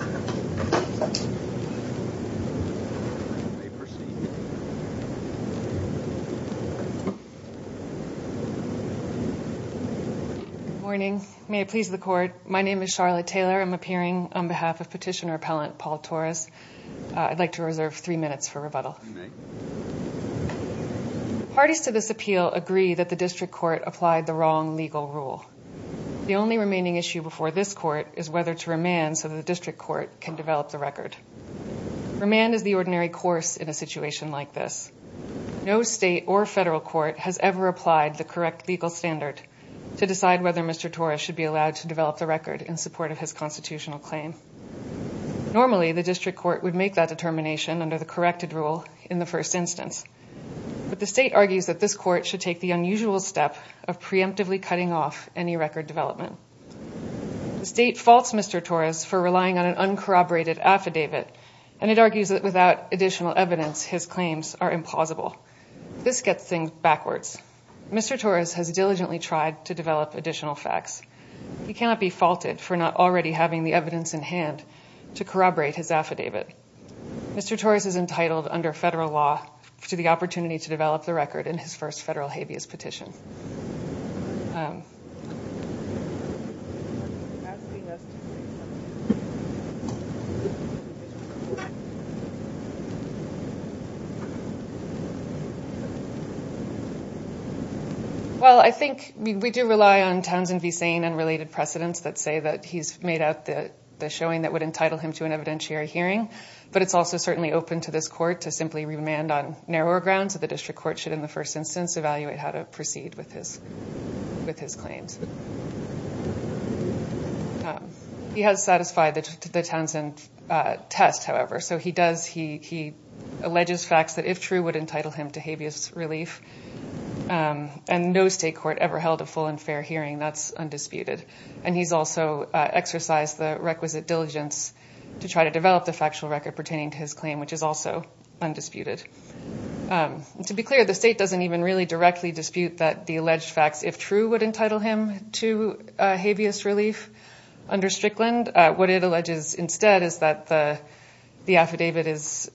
turned out to be a piece of junk. Coming on up. Let me proceed. Good morning. May it please the court. My name is Charlotte Taylor. I'm appearing on behalf of petitioner appellant Paul Torres. I'd like to reserve three minutes for rebuttal. Parties to this appeal agree that the district court applied the wrong legal rule. The only remaining issue before this court is whether to remand so the district court can develop the record. Remand is the ordinary course in a situation like this. No state or federal court has ever applied the correct legal standard to decide whether Mr. Torres should be allowed to develop the record in support of his constitutional claim. Normally the district court would make that determination under the corrected rule in the first instance. But the state argues that this court should take the unusual step of preemptively cutting off any record development. The state faults Mr. Torres for relying on an uncorroborated affidavit and it argues that without additional evidence his claims are impossible. This gets things backwards. Mr. Torres has diligently tried to develop additional facts. He cannot be faulted for not already having the evidence in hand to corroborate his affidavit. Mr. Torres is entitled under federal law to the opportunity to develop the record in his first federal habeas petition. Well, I think we do rely on Townsend v. Sane and related precedents that say that he's made out the showing that would entitle him to an evidentiary hearing. But it's also certainly open to this court to simply remand on narrower grounds that the district court should, in the first instance, evaluate how to proceed with his claims. He has satisfied the Townsend test, however. He alleges facts that, if true, would entitle him to habeas relief. And no state court ever held a full and fair hearing. That's undisputed. And he's also exercised the requisite diligence to try to develop the factual record pertaining to his claim, which is also undisputed. To be clear, the state doesn't even really directly dispute that the alleged facts, if true, would entitle him to habeas relief under Strickland. What it alleges instead is that the affidavit is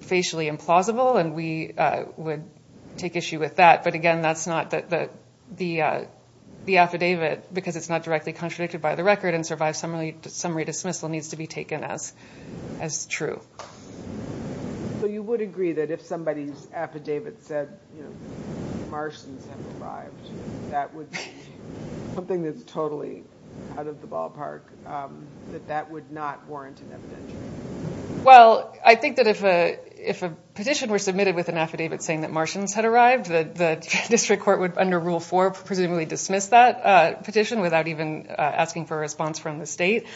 facially implausible and we would take issue with that. But again, the affidavit, because it's not directly contradicted by the record and survives summary dismissal, needs to be taken as true. So you would agree that if somebody's affidavit said Martians have arrived, that would be something that's totally out of the ballpark, that that would not warrant an evidentiary hearing? Well, I think that if a petition were submitted with an affidavit saying that Martians had arrived, the district court would, under Rule 4, presumably dismiss that petition without even asking for a response from the state.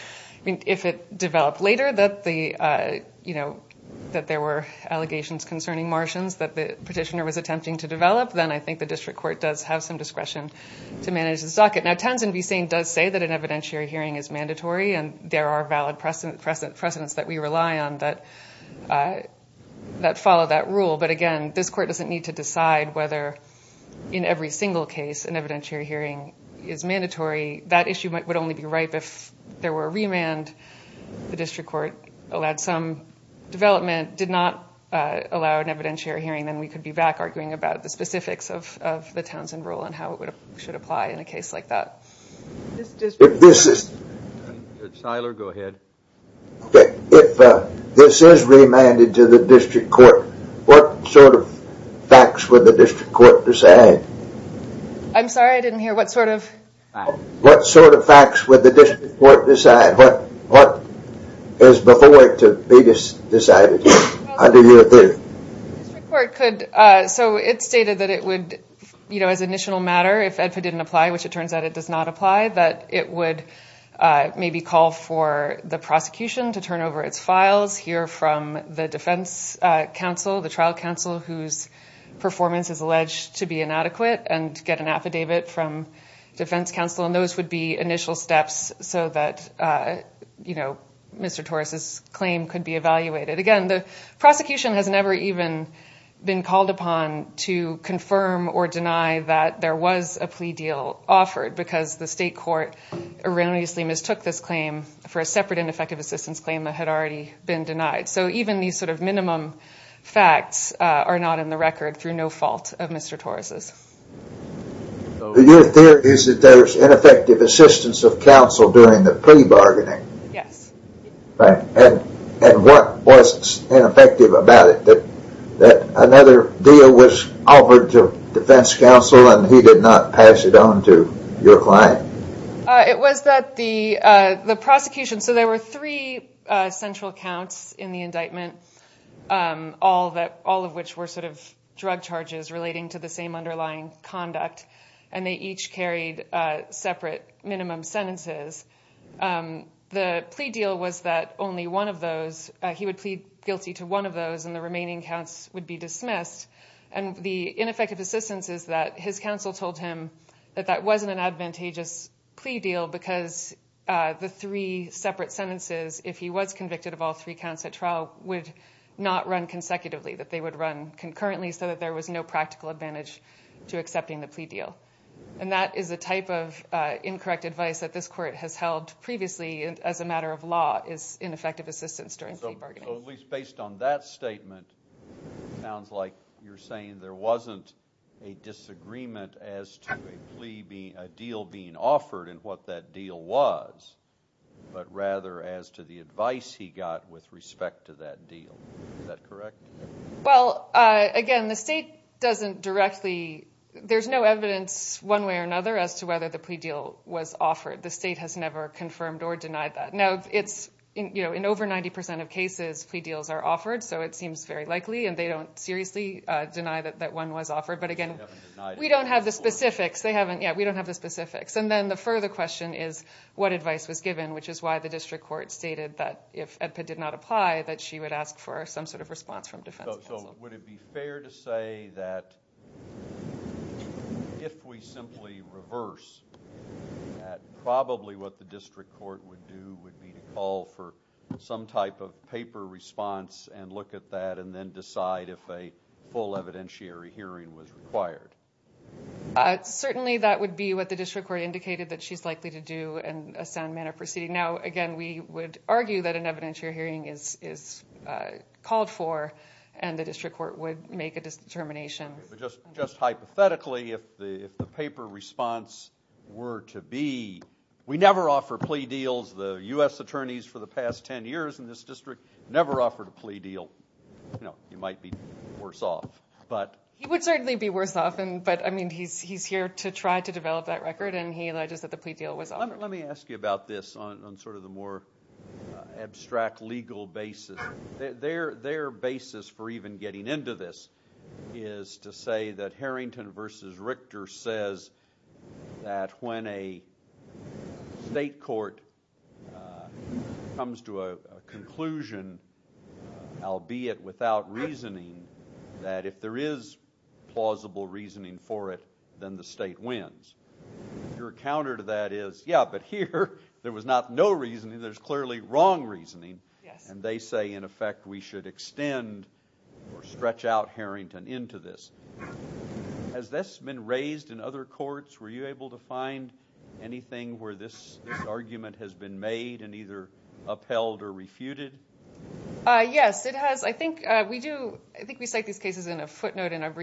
If it developed later that there were allegations concerning Martians that the petitioner was attempting to develop, then I think the district court does have some discretion to manage the socket. Now, Townsend v. Saint does say that an evidentiary hearing is mandatory and there are valid precedents that we rely on that follow that rule. But again, this court doesn't need to decide whether in every single case an evidentiary hearing is mandatory. That issue would only be ripe if there were a remand. district court allowed some development, did not allow an evidentiary hearing, then we could be back arguing about the specifics of the Townsend rule and how it should apply in a case like that. If this is remanded to the district court, what sort of facts would the district court decide? I'm sorry, I didn't hear. What sort of facts? What facts would the district court decide? What is before it to be decided? I didn't hear a thing. So it stated that it would, you know, as an initial matter, if it didn't apply, which it turns out it does not apply, that it would maybe call for the prosecution to turn over its files, hear from the defense counsel, the trial counsel whose performance is alleged to be inadequate, and get an affidavit from defense counsel. And those would be initial steps so that, you know, Mr. Torres's claim could be evaluated. Again, the prosecution has never even been called upon to confirm or deny that there was a plea deal offered because the state court erroneously mistook this claim for a separate ineffective assistance claim that had already been denied. So even these sort of minimum facts are not in the record through no fault of Mr. Torres's. Your theory is that there's ineffective assistance of counsel during the plea bargaining. Yes. And what was ineffective about it? That another deal was offered to defense counsel and he did not pass it on to your client? It was that the prosecution, so there were three central counts in the indictment, all of which were sort of drug charges relating to the same underlying conduct, and they each carried separate minimum sentences. The plea deal was that only one of those, he would plead guilty to one of those and the remaining counts would be dismissed. And the ineffective assistance is that his counsel told him that that wasn't an advantageous plea deal because the three separate sentences, if he was convicted of all three counts at trial, would not run consecutively, that they would run concurrently so that there was no practical advantage to accepting the plea deal. And that is a type of incorrect advice that this court has held previously as a matter of law is ineffective assistance during plea bargaining. So at least based on that statement, it sounds like you're saying there wasn't a disagreement as to a deal being offered and what that deal was, but rather as to the advice he got with respect to that deal. Is that correct? Well, again, the state doesn't directly, there's no evidence one way or another as to whether the plea deal was offered. The state has never confirmed or denied that. Now it's, you know, in over 90% of cases, plea deals are offered, so it seems very likely and they don't seriously deny that one was offered. But again, we don't have the specifics. They haven't, yeah, we don't have the specifics. And then the further question is what advice was given, which is why the district court stated that if EDPA did not apply, that she would ask for some sort of response from defense counsel. So would it be fair to say that if we simply reverse that, probably what the district court would do would be to call for some type of paper response and look at that and then decide if a full evidentiary hearing was required? Certainly that would be what the district court indicated that she's likely to do in a sound manner proceeding. Now, again, we would argue that an evidentiary hearing is called for and the district court would make a determination. Just hypothetically, if the paper response were to be, we never offer plea deals. The U.S. attorneys for the past 10 years in this district never offered a plea deal. You know, you might be worse off. He would certainly be worse off. But, I mean, he's here to try to develop that record and he alleges that the plea deal was offered. Let me ask you about this on sort of the more abstract legal basis. Their basis for even getting into this is to say that Harrington versus Richter says that when a state court comes to a conclusion, albeit without reasoning, that if there is plausible reasoning for it, then the state wins. Your counter to that is, yeah, but here there was not no reasoning. There's clearly wrong reasoning. And they say, in effect, we should extend or stretch out Harrington into this. Has this been raised in other courts? Were you able to find anything where this argument has been made and either upheld or refuted? Yes, it has. I think we cite these cases in a footnote in our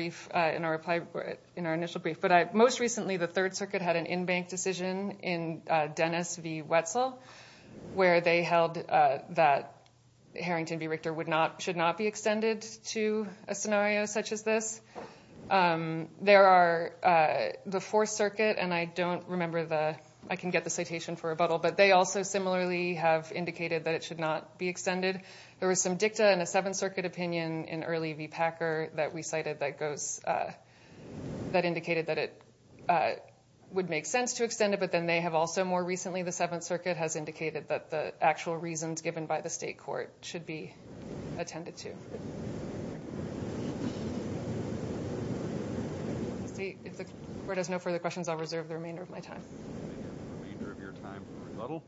initial brief. But most recently the Third Circuit had an in-bank decision in Dennis v. Wetzel where they held that Harrington v. Richter should not be extended to a scenario such as this. There are the Fourth Circuit and I don't remember the, I can get the citation for rebuttal, but they also similarly have indicated that it should not be extended. There was some dicta in the Seventh Circuit opinion in early v. Packer that we cited that goes, that indicated that it would make sense to extend it, but then they have also more recently, the Seventh Circuit has indicated that the actual reasons given by the state court should be attended to. If the court has no further questions, I'll reserve the remainder of my time. The remainder of your time for rebuttal.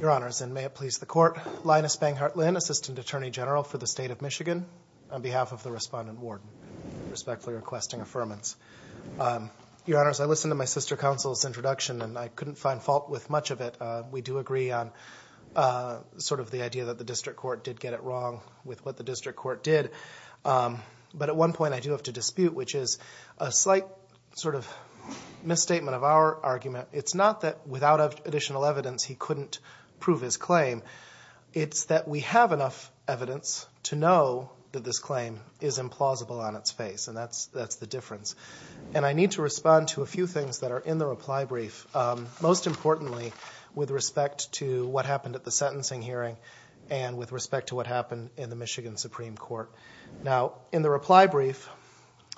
Your Honors, and may it please the Court. Linus Banghart Lynn, Assistant Attorney General for the State of Michigan, on behalf of the Respondent Warden, respectfully requesting affirmance. Your Honors, I listened to my sister counsel's introduction and I couldn't find fault with much of it. We do agree on sort of the idea that the district court did get it wrong with what the district court did. But at one point I do have to dispute, which is a slight sort of misstatement of our argument. It's not that without additional evidence he couldn't prove his claim. It's that we have enough evidence to know that this claim is implausible on its face. And that's the difference. And I need to respond to a few things that are in the reply brief. Most importantly, with respect to what happened at the sentencing hearing and with respect to what happened in the Michigan Supreme Court. Now, in the reply brief,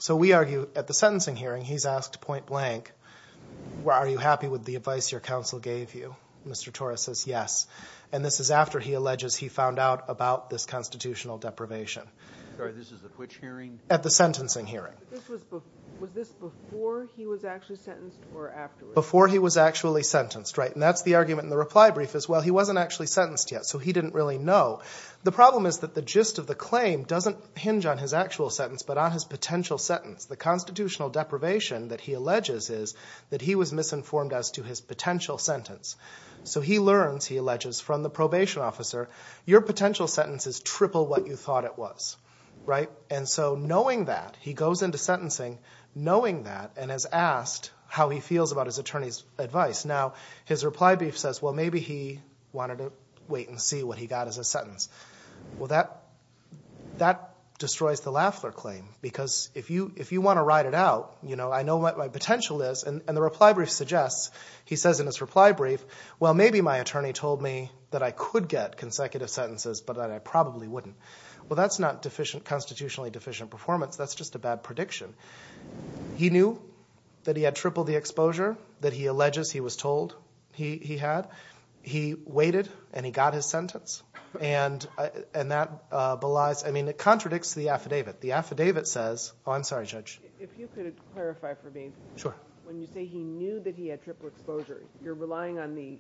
so we argue at the sentencing hearing, he's asked point blank, are you happy with the advice your counsel gave you? Mr. Torres says yes. And this is after he alleges he found out about this constitutional deprivation. Sorry, this is at which hearing? At the sentencing hearing. Was this before he was actually sentenced or afterwards? Before he was actually sentenced, right. And that's the argument in the reply brief as well. He wasn't actually sentenced yet, so he didn't really know. The problem is that the gist of the claim doesn't hinge on his actual sentence but on his potential sentence. The constitutional deprivation that he alleges is that he was misinformed as to his potential sentence. So he learns, he alleges, from the probation officer, your potential sentence is triple what you thought it was, right. And so knowing that, he goes into sentencing knowing that and has asked how he feels about his attorney's advice. Now, his reply brief says, well, maybe he wanted to wait and see what he got as a sentence. Well, that destroys the Laffler claim because if you want to ride it out, I know what my potential is. And the reply brief suggests, he says in his reply brief, well, maybe my attorney told me that I could get consecutive sentences but that I probably wouldn't. Well, that's not constitutionally deficient performance. That's just a bad prediction. He knew that he had triple the exposure that he alleges he was told he had. He waited and he got his sentence and that belies, I mean, it contradicts the affidavit. The affidavit says, oh, I'm sorry, Judge. If you could clarify for me. Sure. When you say he knew that he had triple exposure, you're relying on the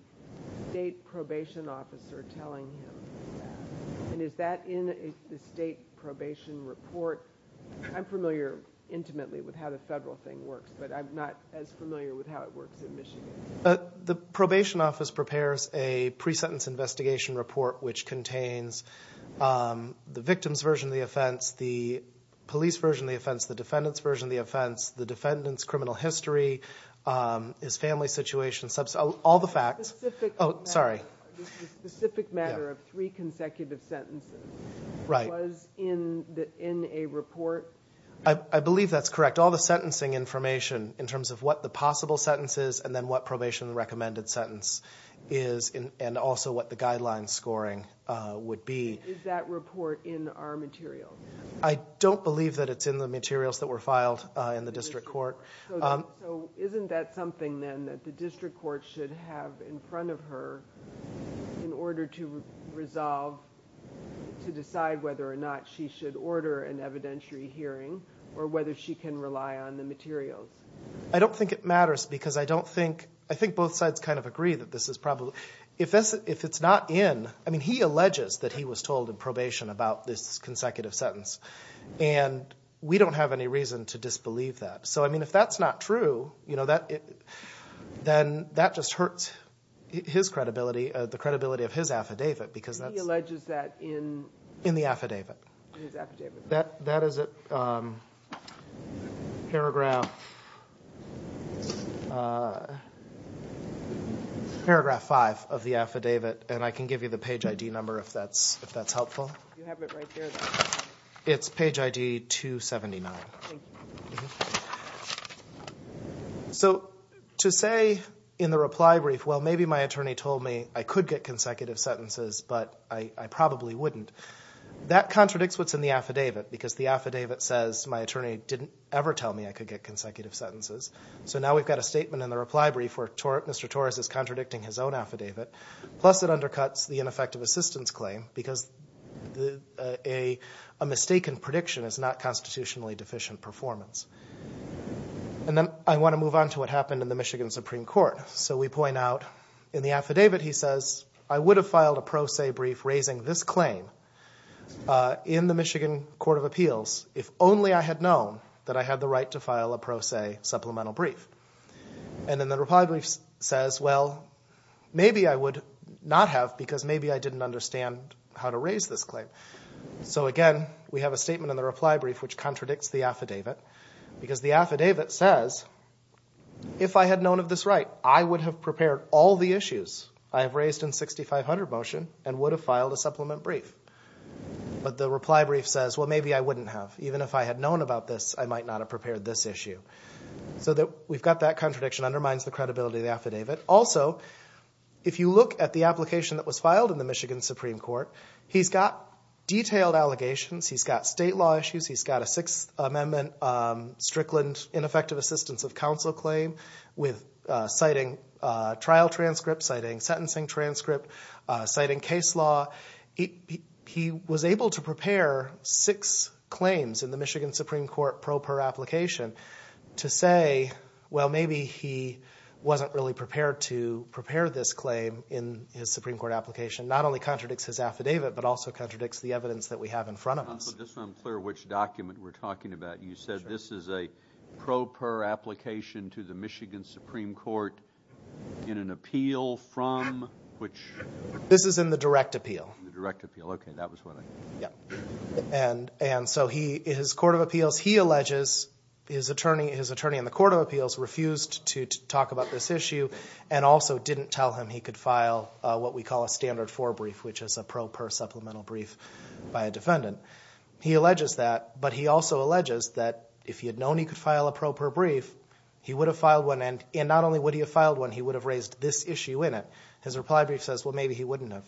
state probation officer telling him that. And is that in the state probation report? I'm familiar intimately with how the federal thing works but I'm not as familiar with how it works in Michigan. The probation office prepares a pre-sentence investigation report which contains the victim's version of the offense, the police version of the offense, the defendant's version of the offense, the defendant's criminal history, his family situation, all the facts. This is a specific matter of three consecutive sentences. Right. It was in a report. I believe that's correct. We kept all the sentencing information in terms of what the possible sentence is and then what probation recommended sentence is and also what the guideline scoring would be. Is that report in our material? I don't believe that it's in the materials that were filed in the district court. So isn't that something then that the district court should have in front of her in order to resolve, to decide whether or not she should order an evidentiary hearing or whether she can rely on the materials? I don't think it matters because I don't think, I think both sides kind of agree that this is probably, if it's not in, I mean he alleges that he was told in probation about this consecutive sentence and we don't have any reason to disbelieve that. So I mean if that's not true, you know, then that just hurts his credibility, the credibility of his affidavit because that's. He alleges that in. In the affidavit. His affidavit. That is paragraph five of the affidavit and I can give you the page ID number if that's helpful. You have it right there. It's page ID 279. Thank you. So, to say in the reply brief well maybe my attorney told me I could get consecutive sentences, but I probably wouldn't. That contradicts what's in the affidavit because the affidavit says my attorney didn't ever tell me I could get consecutive sentences. So now we've got a statement in the reply brief where Mr. Torres is contradicting his own affidavit. Plus it undercuts the ineffective assistance claim because a mistaken prediction is not constitutionally deficient performance. And then I want to move on to what happened in the Michigan Supreme Court. So we point out in the affidavit he says I would have filed a pro se brief raising this claim in the Michigan Court of Appeals if only I had known that I had the right to file a pro se supplemental brief. And then the reply brief says well maybe I would not have because maybe I didn't understand how to raise this claim. So again, we have a statement in the reply brief which contradicts the affidavit because the affidavit says if I had known of this right, I would have prepared all the issues I have raised in 6500 motion and would have filed a supplement brief. But the reply brief says well maybe I wouldn't have. Even if I had known about this, I might not have prepared this issue. So we've got that contradiction undermines the credibility of the affidavit. Also, if you look at the application that was filed in the Michigan Supreme Court, he's got detailed allegations. He's got state law issues. He's got a Sixth Amendment Strickland ineffective assistance of counsel claim with citing trial transcripts, citing sentencing transcripts, citing case law. He was able to prepare six claims in the Michigan Supreme Court pro per application to say well maybe he wasn't really prepared to prepare this claim in his Supreme Court application. Not only contradicts his affidavit, but also contradicts the evidence that we have in front of us. So just so I'm clear which document we're talking about, you said this is a pro per application to the Michigan Supreme Court in an appeal from which? This is in the direct appeal. The direct appeal. Okay, that was what I thought. Yeah. And so his court of appeals, he alleges his attorney in the court of appeals refused to talk about this issue and also didn't tell him he could file what we call a standard four brief, which is a pro per supplemental brief by a defendant. He alleges that, but he also alleges that if he had known he could file a pro per brief, he would have filed one and not only would he have filed one, he would have raised this issue in it. His reply brief says well maybe he wouldn't have.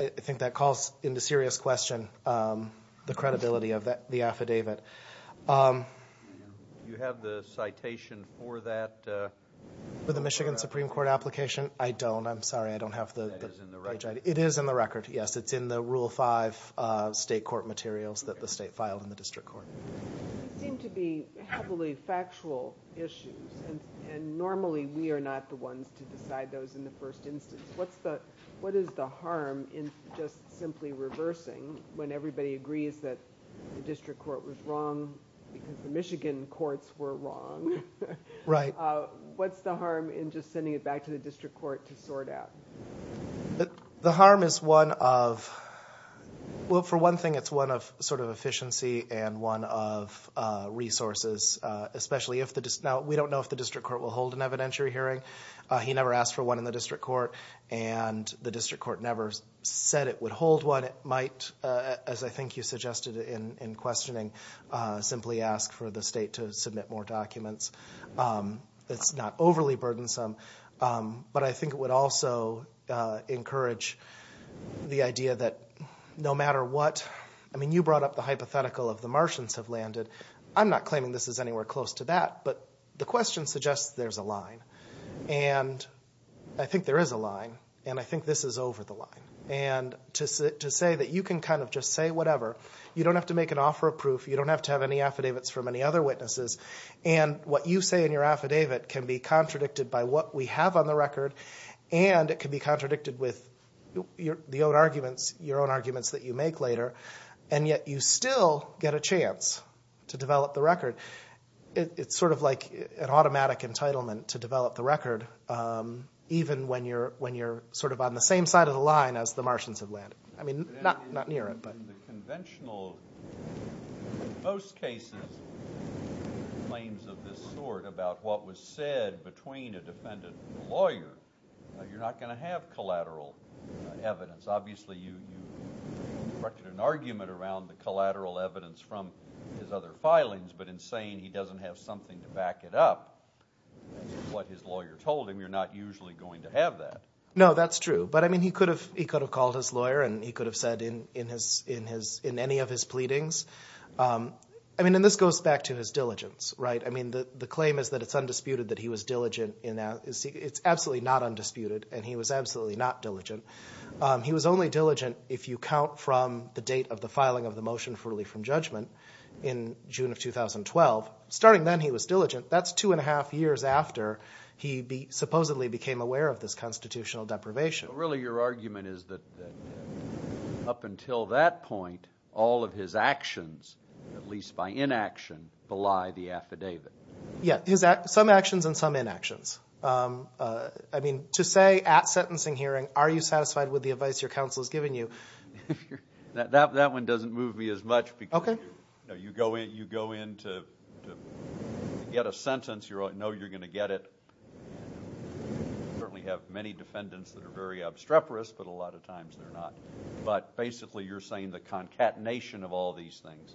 I think that calls into serious question the credibility of the affidavit. Do you have the citation for that? For the Michigan Supreme Court application? I don't. I'm sorry, I don't have the page ID. It is in the record. It is in the record, yes. It's in the rule five state court materials that the state filed in the district court. They seem to be heavily factual issues and normally we are not the ones to decide those in the first instance. What is the harm in just simply reversing when everybody agrees that the district court was wrong because the Michigan courts were wrong? Right. What's the harm in just sending it back to the district court to sort out? The harm is one of, well for one thing it's one of sort of efficiency and one of resources, especially if, now we don't know if the district court will hold an evidentiary hearing. He never asked for one in the district court and the district court never said it would hold one. It might, as I think you suggested in questioning, simply ask for the state to submit more documents. It's not overly burdensome, but I think it would also encourage the idea that no matter what, I mean you brought up the hypothetical of the Martians have landed. I'm not claiming this is anywhere close to that, but the question suggests there's a line. And I think there is a line and I think this is over the line. And to say that you can kind of just say whatever, you don't have to make an offer of proof, you don't have to have any affidavits from any other witnesses, and what you say in your affidavit can be contradicted by what we have on the record and it can be contradicted with your own arguments that you make later, and yet you still get a chance to develop the record. It's sort of like an automatic entitlement to develop the record, even when you're sort of on the same side of the line as the Martians have landed. I mean, not near it. In most cases, claims of this sort about what was said between a defendant and a lawyer, you're not going to have collateral evidence. Obviously, you directed an argument around the collateral evidence from his other filings, but in saying he doesn't have something to back it up, which is what his lawyer told him, you're not usually going to have that. No, that's true. But, I mean, he could have called his lawyer and he could have said in any of his pleadings. I mean, and this goes back to his diligence, right? I mean, the claim is that it's undisputed that he was diligent. It's absolutely not undisputed and he was absolutely not diligent. He was only diligent if you count from the date of the filing of the motion for relief from judgment in June of 2012. Starting then, he was diligent. That's two and a half years after he supposedly became aware of this constitutional deprivation. Really, your argument is that up until that point, all of his actions, at least by inaction, belie the affidavit. Yeah, some actions and some inactions. I mean, to say at sentencing hearing, are you satisfied with the advice your counsel has given you? That one doesn't move me as much because you go in to get a sentence, you know you're going to get it. You certainly have many defendants that are very obstreperous, but a lot of times they're not. But, basically, you're saying the concatenation of all these things.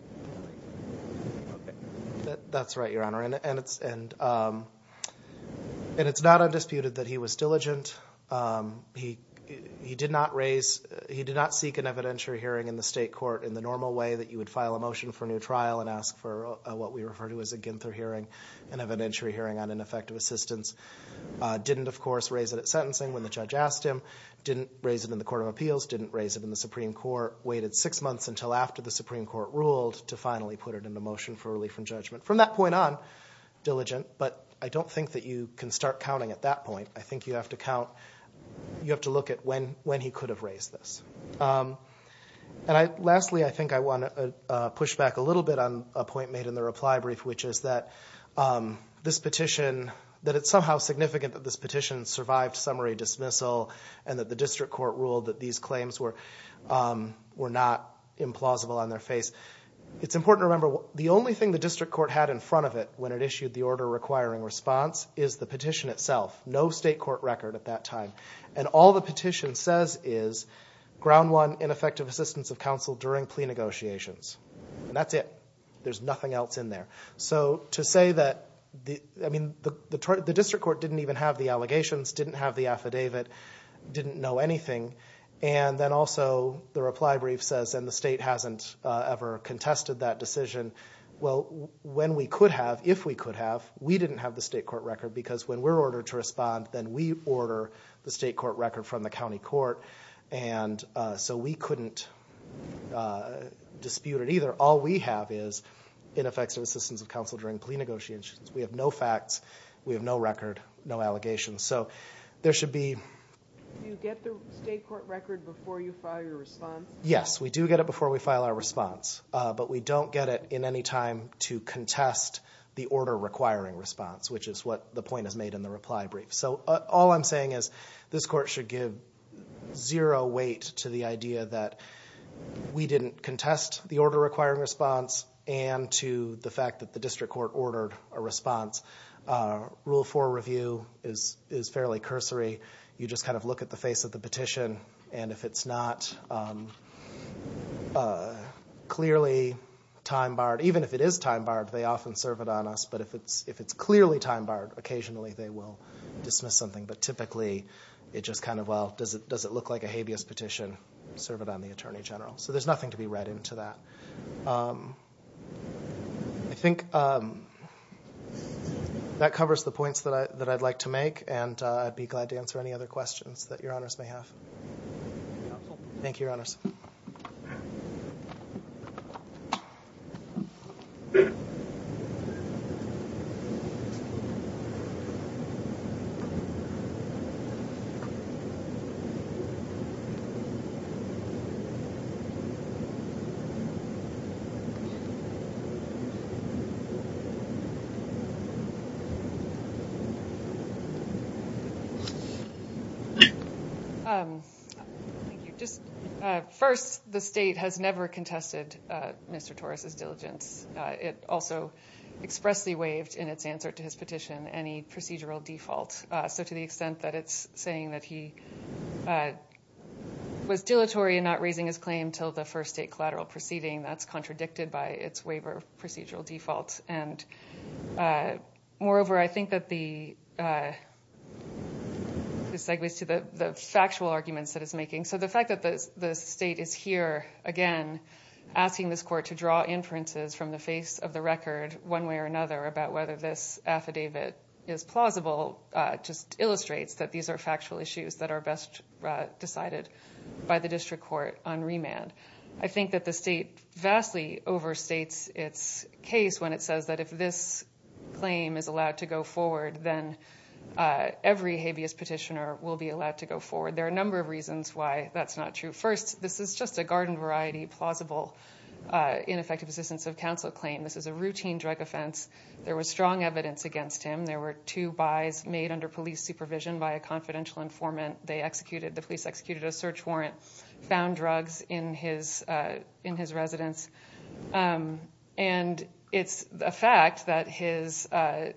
That's right, your Honor. And it's not undisputed that he was diligent. He did not seek an evidentiary hearing in the state court in the normal way that you would file a motion for a new trial and ask for what we refer to as a Ginther hearing, an evidentiary hearing on ineffective assistance. Didn't, of course, raise it at sentencing when the judge asked him. Didn't raise it in the Court of Appeals. Didn't raise it in the Supreme Court. Waited six months until after the Supreme Court ruled to finally put it in the motion for relief from judgment. From that point on, diligent, but I don't think that you can start counting at that point. I think you have to count, you have to look at when he could have raised this. And lastly, I think I want to push back a little bit on a point made in the reply brief, which is that this petition, that it's somehow significant that this petition survived summary dismissal and that the district court ruled that these claims were not implausible on their face. It's important to remember, the only thing the district court had in front of it when it issued the order requiring response is the petition itself. No state court record at that time. And all the petition says is, ground one, ineffective assistance of counsel during plea negotiations. And that's it. There's nothing else in there. So to say that, I mean, the district court didn't even have the allegations, didn't have the affidavit, didn't know anything. And then also the reply brief says, and the state hasn't ever contested that decision. Well, when we could have, if we could have, we didn't have the state court record because when we're ordered to respond, then we order the state court record from the county court. And so we couldn't dispute it either. All we have is ineffective assistance of counsel during plea negotiations. We have no facts. We have no record, no allegations. So there should be. Do you get the state court record before you file your response? Yes, we do get it before we file our response. But we don't get it in any time to contest the order requiring response, which is what the point is made in the reply brief. So all I'm saying is this court should give zero weight to the idea that we didn't contest the order requiring response and to the fact that the district court ordered a response. Rule 4 review is fairly cursory. You just kind of look at the face of the petition, and if it's not clearly time-barred, even if it is time-barred, they often serve it on us. But if it's clearly time-barred, occasionally they will dismiss something. But typically, it just kind of, well, does it look like a habeas petition? Serve it on the attorney general. So there's nothing to be read into that. I think that covers the points that I'd like to make, and I'd be glad to answer any other questions that Your Honors may have. Thank you, Your Honors. Thank you. First, the state has never contested Mr. Torres's diligence. It also expressly waived in its answer to his petition any procedural default. So to the extent that it's saying that he was dilatory in not raising his claim until the first state collateral proceeding, that's contradicted by its waiver of procedural default. And moreover, I think that this segues to the factual arguments that it's making. So the fact that the state is here, again, asking this court to draw inferences from the face of the record, one way or another, about whether this affidavit is plausible just illustrates that these are factual issues that are best decided by the district court on remand. I think that the state vastly overstates its case when it says that if this claim is allowed to go forward, then every habeas petitioner will be allowed to go forward. There are a number of reasons why that's not true. First, this is just a garden variety plausible ineffective assistance of counsel claim. This is a routine drug offense. There was strong evidence against him. There were two buys made under police supervision by a confidential informant. The police executed a search warrant, found drugs in his residence. And it's a fact that his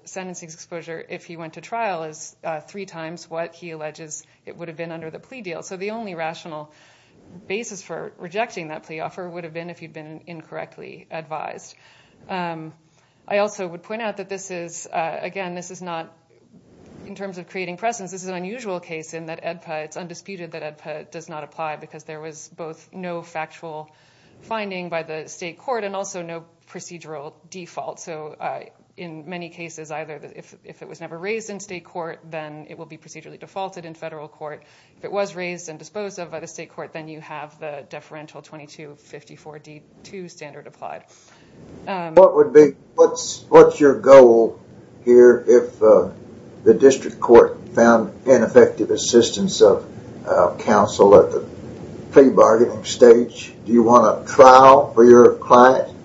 sentencing exposure, if he went to trial, is three times what he alleges it would have been under the plea deal. So the only rational basis for rejecting that plea offer would have been if he'd been incorrectly advised. I also would point out that this is, again, this is not, in terms of creating precedence, this is an unusual case in that it's undisputed that AEDPA does not apply because there was both no factual finding by the state court and also no procedural default. So in many cases, either if it was never raised in state court, then it will be procedurally defaulted in federal court. If it was raised and disposed of by the state court, then you have the deferential 2254D2 standard applied. What's your goal here if the district court found ineffective assistance of counsel at the plea bargaining stage? Do you want a trial for your client?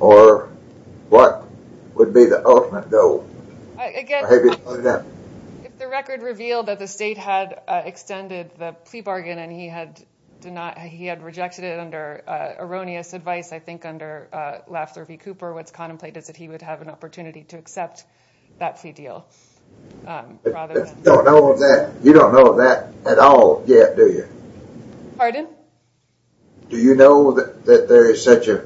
Or what would be the ultimate goal? If the record revealed that the state had extended the plea bargain and he had rejected it under erroneous advice, I think under Lafler v. Cooper, what's contemplated is that he would have an opportunity to accept that plea deal. You don't know that at all yet, do you? Pardon? Do you know that there is such an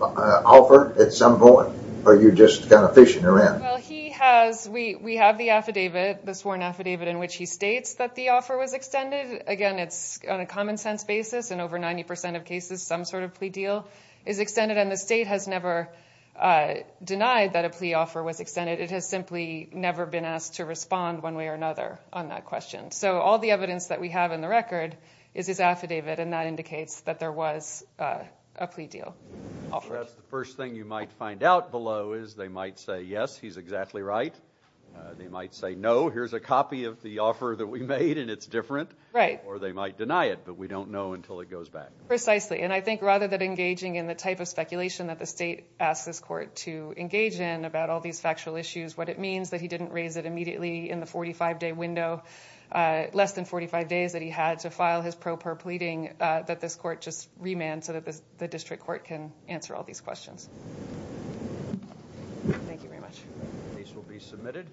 offer at some point, or are you just kind of fishing around? Well, we have the affidavit, the sworn affidavit, in which he states that the offer was extended. Again, it's on a common-sense basis. In over 90% of cases, some sort of plea deal is extended, and the state has never denied that a plea offer was extended. It has simply never been asked to respond one way or another on that question. So all the evidence that we have in the record is his affidavit, and that indicates that there was a plea deal. That's the first thing you might find out below is they might say, yes, he's exactly right. They might say, no, here's a copy of the offer that we made, and it's different. Right. Or they might deny it, but we don't know until it goes back. Precisely, and I think rather than engaging in the type of speculation that the state asks this court to engage in about all these factual issues, what it means that he didn't raise it immediately in the 45-day window, less than 45 days that he had to file his pro per pleading, that this court just remand so that the district court can answer all these questions. Thank you very much. These will be submitted.